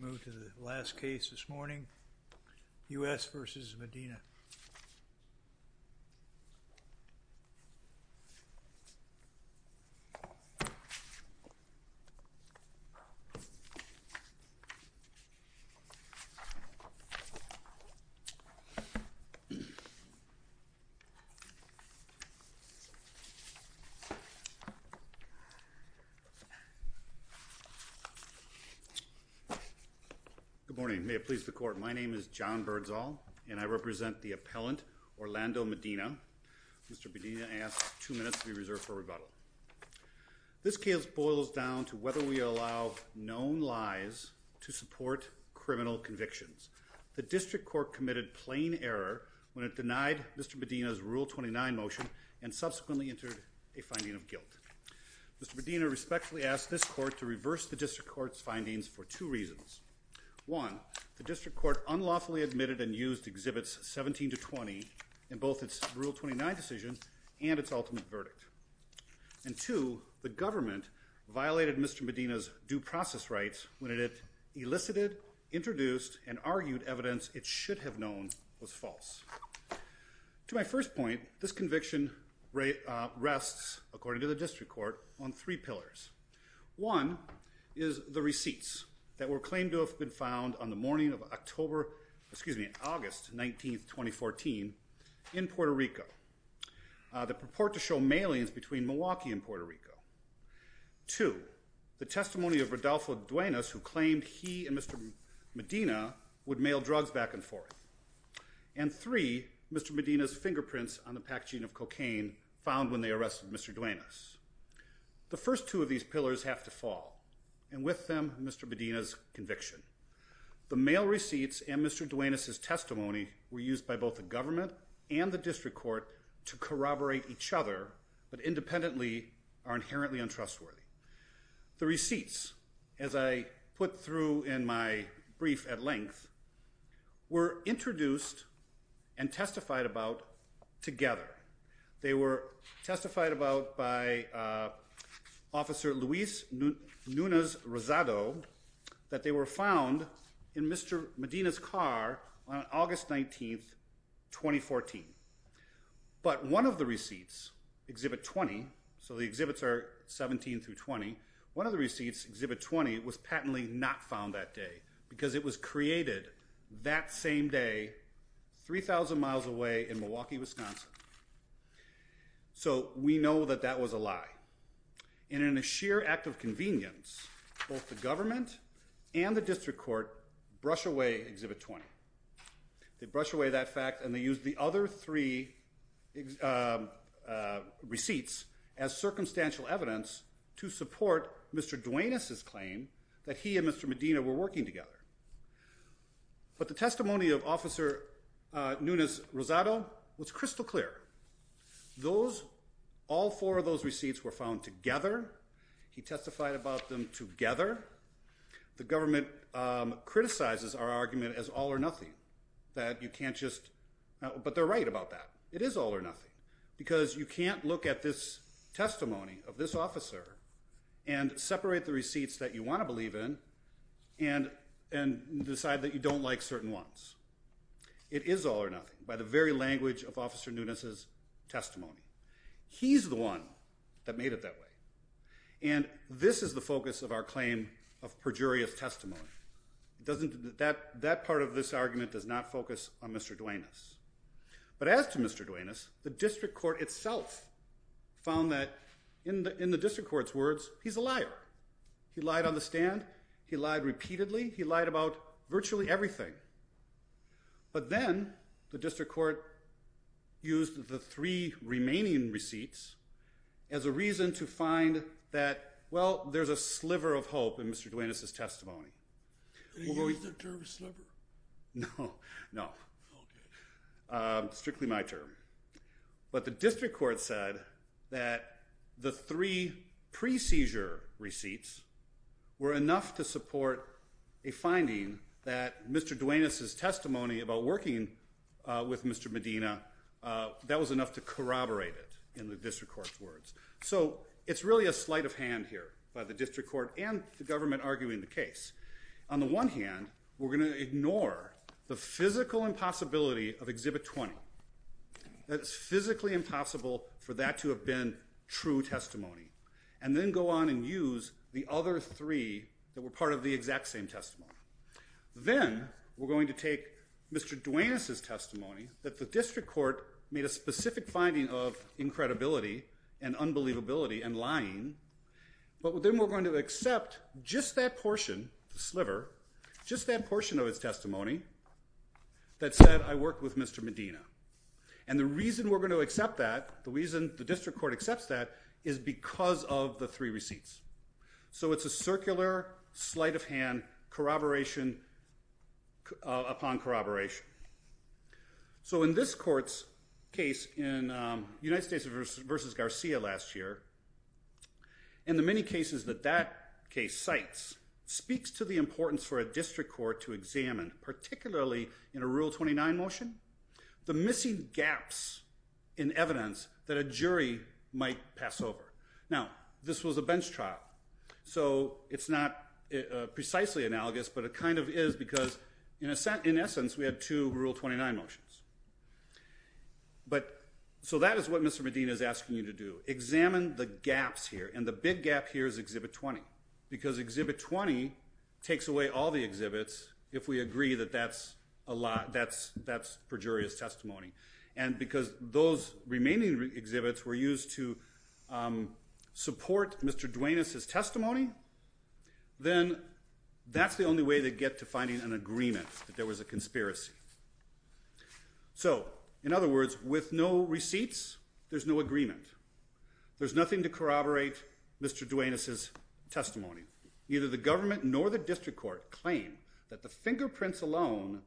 Move to the last case this morning, U.S. v. Medina. Good morning. May it please the court. My name is John Birdsall, and I represent the appellant Orlando Medina. Mr. Medina asks two minutes to be reserved for rebuttal. This case boils down to whether we allow known lies to support criminal convictions. The district court committed plain error when it denied Mr. Medina's Rule 29 motion and subsequently entered a finding of guilt. Mr. Medina respectfully asked this court to reverse the district court's findings for two reasons. One, the district court unlawfully admitted and used exhibits 17 to 20 in both its Rule 29 decision and its ultimate verdict. And two, the government violated Mr. Medina's due process rights when it elicited, introduced, and argued evidence it should have known was false. To my first point, this conviction rests, according to the One is the receipts that were claimed to have been found on the morning of October, excuse me, August 19th, 2014 in Puerto Rico that purport to show mailings between Milwaukee and Puerto Rico. Two, the testimony of Rodolfo Duenas, who claimed he and Mr. Medina would mail drugs back and forth. And three, Mr. Medina's fingerprints on the packaging of cocaine found when they arrested Mr. Duenas. The first two of these pillars have to fall. And with them, Mr. Medina's conviction. The mail receipts and Mr. Duenas' testimony were used by both the government and the district court to corroborate each other, but independently are inherently untrustworthy. The receipts, as I put through in my brief at length, were that they were found in Mr. Medina's car on August 19th, 2014. But one of the receipts, Exhibit 20, so the exhibits are 17 through 20, one of the receipts, Exhibit 20, was patently not found that day because it was created that same day 3,000 miles away in Milwaukee, Wisconsin. So we know that that was a lie. And in a sheer act of convenience, both the government and the district court brush away Exhibit 20. They brush away that fact and they use the other three receipts as circumstantial evidence to support Mr. Duenas' claim that he and Officer Nunez-Rosado was crystal clear. Those, all four of those receipts were found together. He testified about them together. The government criticizes our argument as all or nothing, that you can't just, but they're right about that. It is all or nothing because you can't look at this testimony of this officer and separate the receipts that you want to believe in and decide that you don't like certain ones. It is all or nothing by the very language of Officer Nunez's testimony. He's the one that made it that way. And this is the focus of our claim of perjurious testimony. That part of this argument does not focus on Mr. Duenas. But as to Mr. Duenas, the district court itself found that, in the district court's words, he's a liar. He lied on the stand, he lied repeatedly, he lied about virtually everything. But then the district court used the three remaining receipts as a reason to find that, well, there's a sliver of hope in Mr. Duenas' testimony. Did he use the term sliver? No, no. Strictly my term. But the district court said that the three pre-seizure receipts were enough to support a finding that Mr. Duenas' testimony about working with Mr. Medina, that was enough to corroborate it, in the district court's words. So it's really a sleight of hand here by the district court and the government arguing the case. On the one hand, we're going to ignore the physical impossibility of Exhibit 20. That it's physically impossible for that to have been true testimony, and then go on and use the other three that were part of the exact same testimony. Then we're going to take Mr. Duenas' testimony that the district court made a specific finding of incredibility and unbelievability and lying, but then we're going to accept just that portion, the sliver, just that portion of his testimony that said, I work with Mr. Medina. And the reason we're going to accept that, the reason the district court accepts that, is because of the three receipts. So it's a circular sleight-of-hand corroboration upon corroboration. So in this court's case in United States versus Garcia last year, in the many cases that that case cites, speaks to the importance for a district court to examine, particularly in a Rule 29 motion, the missing gaps in evidence that a jury might pass over. Now this was a bench trial, so it's not precisely analogous, but it kind of is, because in essence we had two Rule 29 motions. But so that is what Mr. Medina is asking you to do. Examine the gaps here, and the big gap here is Exhibit 20, because Exhibit 20 takes away all the exhibits if we agree that that's a lot, that's perjurious testimony. And because those remaining exhibits were used to support Mr. Duenas's testimony, then that's the only way to get to finding an agreement that there was a conspiracy. So in other words, with no receipts, there's no agreement. There's nothing to corroborate Mr. Duenas's testimony. Neither the government nor the district court claim that the fingerprints alone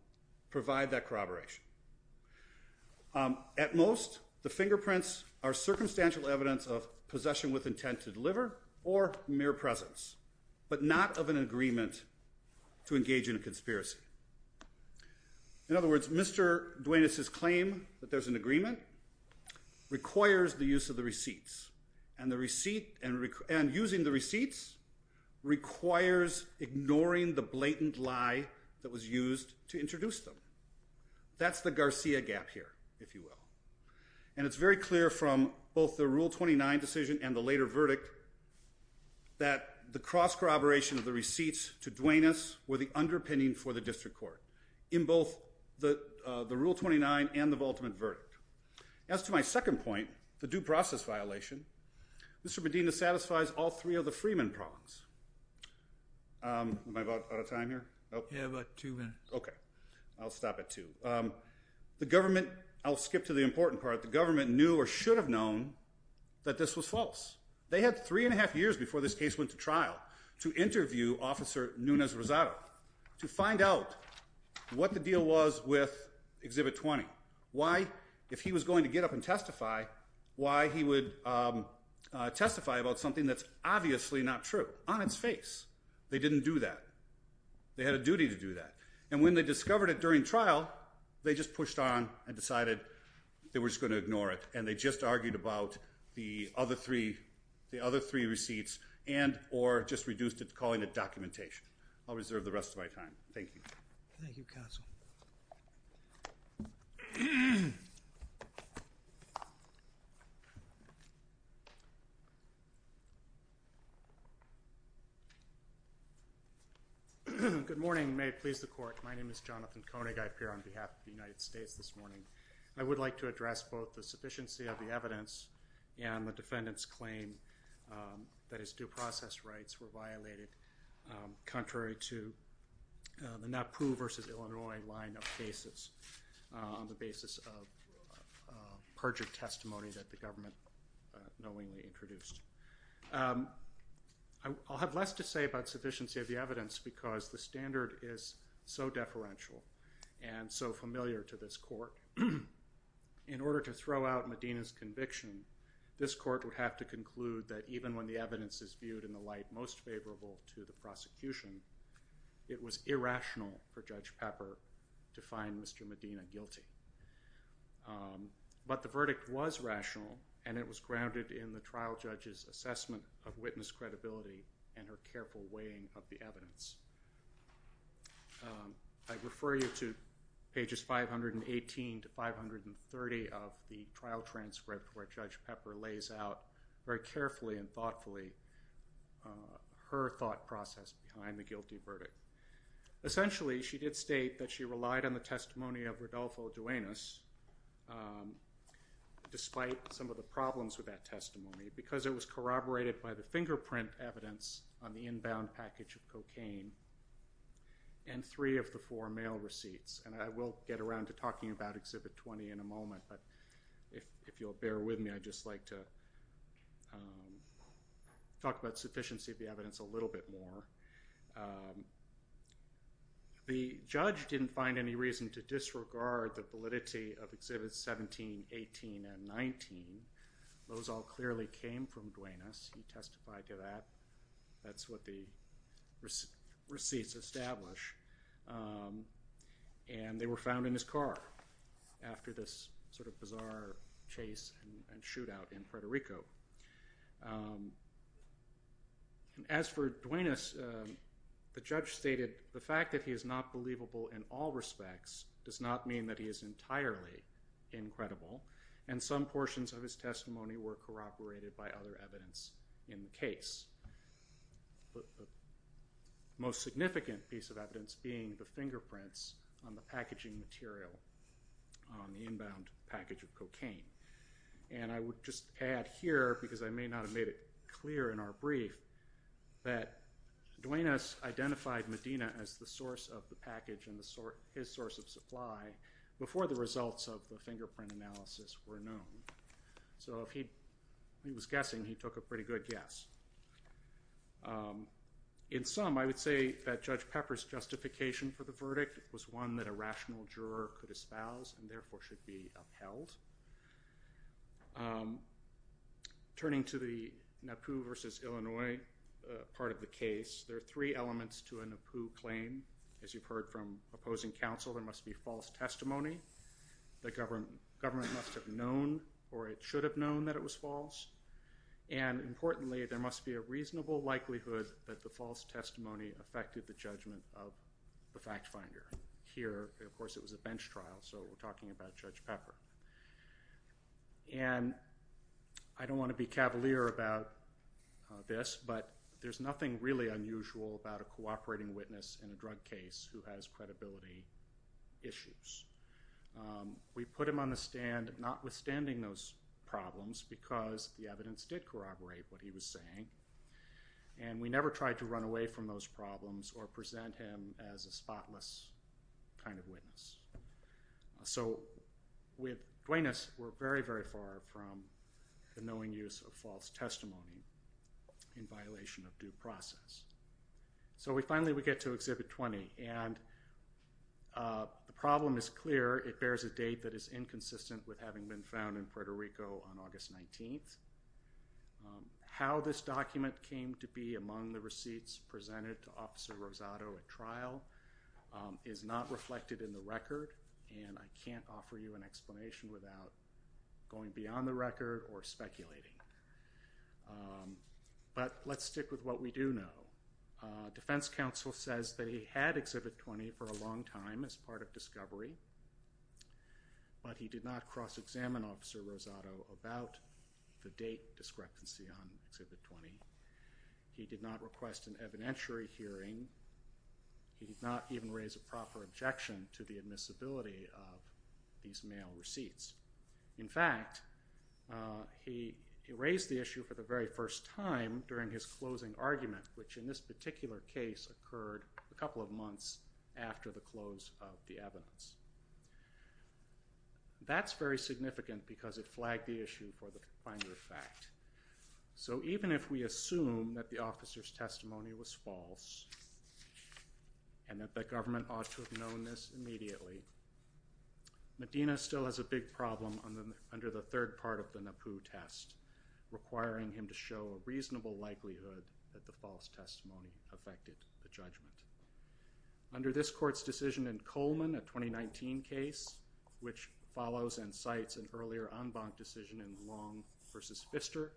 provide that evidence. At most, the fingerprints are circumstantial evidence of possession with intent to deliver or mere presence, but not of an agreement to engage in a conspiracy. In other words, Mr. Duenas's claim that there's an agreement requires the use of the receipts, and using the receipts requires ignoring the blatant lie that was used to introduce them. That's the Garcia gap here, if you will. And it's very clear from both the Rule 29 decision and the later verdict that the cross-corroboration of the receipts to Duenas were the underpinning for the district court, in both the Rule 29 and the ultimate verdict. As to my second point, the due process violation, Mr. Medina satisfies all three of the Freeman prongs. Am I about out of time here? Yeah, about two minutes. Okay, I'll stop at two. The government, I'll skip to the important part, the government knew or should have known that this was false. They had three and a half years before this case went to trial to interview Officer Nunez-Rosado to find out what the deal was with Exhibit 20. Why, if he was going to get up and testify, why he would testify about something that's they had a duty to do that. And when they discovered it during trial, they just pushed on and decided they were just going to ignore it. And they just argued about the other three, the other three receipts and or just reduced it to calling it documentation. I'll reserve the rest of my time. Thank you. Good morning. May it please the court. My name is Jonathan Koenig. I appear on behalf of the United States this morning. I would like to address both the sufficiency of the evidence and the defendant's claim that his due process rights were violated contrary to the NAPU versus Illinois line of cases on the basis of perjured testimony that the government knowingly introduced. I'll have less to say about sufficiency of the evidence because the standard is so deferential and so familiar to this court. In order to throw out Medina's conviction, this court would have to conclude that even when the evidence is viewed in the light most favorable to the prosecution, it was irrational for Judge Pepper to find Mr. Medina guilty. But the verdict was rational and it was her careful weighing of the evidence. I refer you to pages 518 to 530 of the trial transcript where Judge Pepper lays out very carefully and thoughtfully her thought process behind the guilty verdict. Essentially she did state that she relied on the testimony of Rodolfo Duenas despite some of the problems with that testimony because it was corroborated by the fingerprint evidence on the inbound package of cocaine and three of the four mail receipts and I will get around to talking about Exhibit 20 in a moment but if you'll bear with me I'd just like to talk about sufficiency of the evidence a little bit more. The judge didn't find any reason to disregard the validity of that. That's what the receipts establish and they were found in his car after this sort of bizarre chase and shootout in Frederico. As for Duenas, the judge stated the fact that he is not believable in all respects does not mean that he is entirely incredible and some portions of his testimony were corroborated by other evidence in the case. The most significant piece of evidence being the fingerprints on the packaging material on the inbound package of cocaine and I would just add here because I may not have made it clear in our brief that Duenas identified Medina as the source of the package and his source of supply before the results of the fingerprint analysis were known. So if he was guessing he took a pretty good guess. In sum I would say that Judge Pepper's justification for the verdict was one that a rational juror could espouse and therefore should be upheld. Turning to the NAPU versus Illinois part of the case there are three elements to a NAPU claim as you've heard from opposing counsel there must be false testimony the government must have known or it should have known that it was false and importantly there must be a reasonable likelihood that the false testimony affected the judgment of the fact finder. Here of course it was a bench trial so we're talking about Judge Pepper and I don't want to be cavalier about this but there's nothing really unusual about a cooperating witness in a NAPU case. We put him on the stand notwithstanding those problems because the evidence did corroborate what he was saying and we never tried to run away from those problems or present him as a spotless kind of witness. So with Duenas we're very very far from the knowing use of false testimony in violation of due testimony and the problem is clear it bears a date that is inconsistent with having been found in Puerto Rico on August 19th. How this document came to be among the receipts presented to officer Rosado at trial is not reflected in the record and I can't offer you an explanation without going beyond the record or speculating but let's stick with what we do know. Defense counsel says that he had exhibit 20 for a long time as part of discovery but he did not cross-examine officer Rosado about the date discrepancy on exhibit 20. He did not request an evidentiary hearing. He did not even raise a proper objection to the admissibility of these mail receipts. In fact he raised the issue for the very first time during his closing argument which in this particular case occurred a couple of months after the close of the evidence. That's very significant because it flagged the issue for the finder fact. So even if we assume that the officer's testimony was false and that the government ought to have known this immediately Medina still has a big problem on them under the third part of the NAPU test requiring him to show a reasonable likelihood that the false testimony affected the judgment. Under this court's decision in Coleman a 2019 case which follows and cites an earlier en banc decision in Long versus Pfister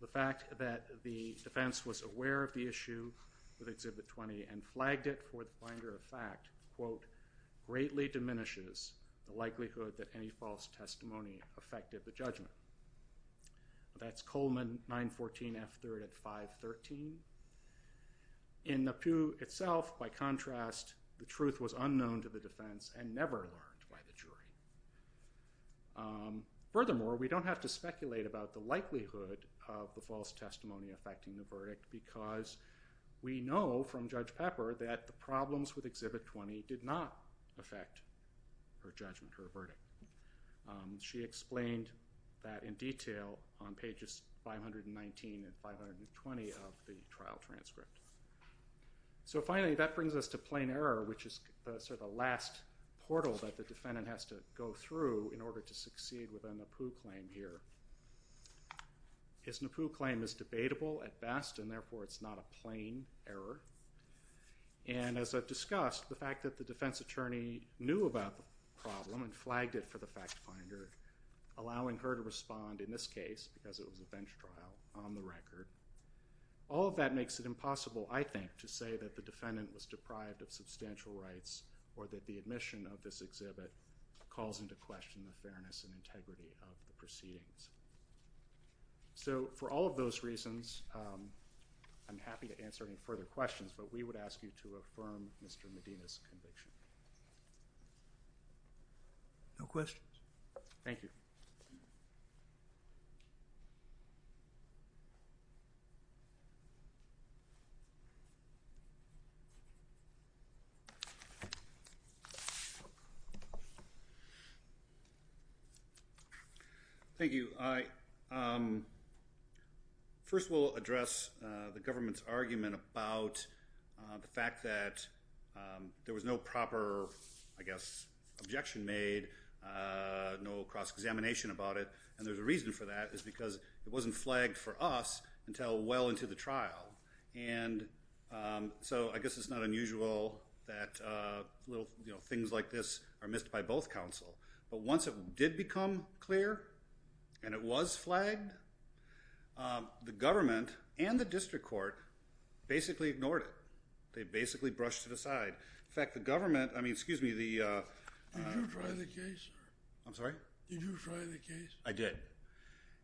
the fact that the defense was aware of the issue with exhibit 20 and flagged it for the finder of fact quote greatly diminishes the likelihood that any false testimony affected the judgment. That's Coleman 914 F3 at 513. In NAPU itself by contrast the truth was unknown to the defense and never learned by the jury. Furthermore we don't have to speculate about the likelihood of the false testimony affecting the verdict because we know from Judge Pepper that the she explained that in detail on pages 519 and 520 of the trial transcript. So finally that brings us to plain error which is sort of a last portal that the defendant has to go through in order to succeed with a NAPU claim here. His NAPU claim is debatable at best and therefore it's not a plain error and as I've discussed the fact that the defense attorney knew about the problem and allowing her to respond in this case because it was a bench trial on the record all of that makes it impossible I think to say that the defendant was deprived of substantial rights or that the admission of this exhibit calls into question the fairness and integrity of the proceedings. So for all of those reasons I'm happy to answer any further questions but we would ask you to affirm Mr. Medina's conviction. No questions? Thank you. Thank you. I first will address the government's argument about the fact that there was no proper I guess objection made no cross-examination about it and there's a reason for that is because it wasn't flagged for us until well into the trial and so I guess it's not unusual that little you know things like this are missed by both counsel but once it did become clear and it was flagged the government and the district court basically ignored it. They basically brushed it aside. In fact the government I mean excuse me the I'm sorry I did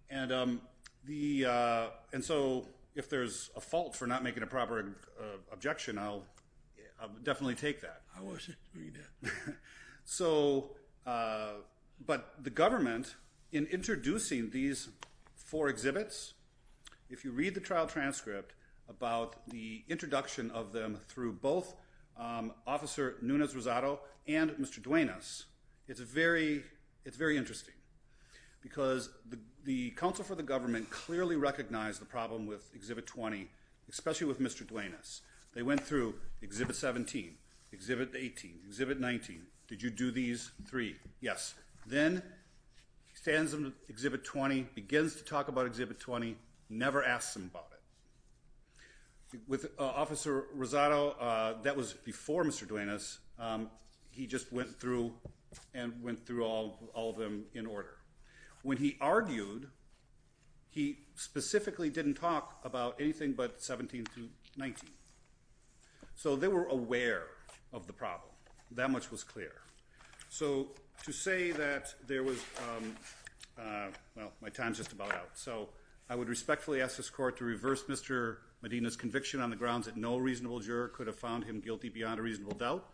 and the and so if there's a fault for not making a proper objection I'll definitely take that. So but the government in introducing these four exhibits if you read the trial transcript about the introduction of them through both officer Nunes Rosado and Mr. Duenas it's a very it's very interesting because the council for the government clearly recognized the problem with exhibit 20 especially with Mr. Duenas. They went through exhibit 17 exhibit 18 exhibit 19. Did you do these three? Yes. Then he stands in exhibit 20 begins to talk about exhibit 20 never asked him about it. With officer Rosado that was before Mr. Duenas he just went through and went through all all of them in order. When he argued he specifically didn't talk about anything but 17 to 19. So they were aware of the problem that much was clear. So to say that there was well my time's just about out. So I would respectfully ask this court to reverse Mr. Medina's conviction on the grounds that no reasonable juror could have found him guilty beyond a reasonable doubt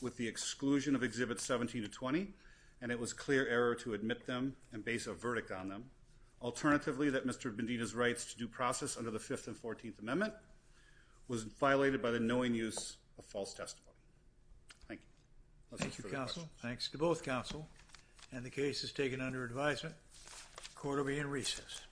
with the exclusion of exhibit 17 to 20 and it was clear error to admit them and base a verdict on them. Alternatively that Mr. Medina's rights to due process under the 5th and 14th amendment was violated by the knowing use of false testimony. Thank you. Thank you counsel. Thanks to both counsel and the case is taken under advisement. Court will be in recess.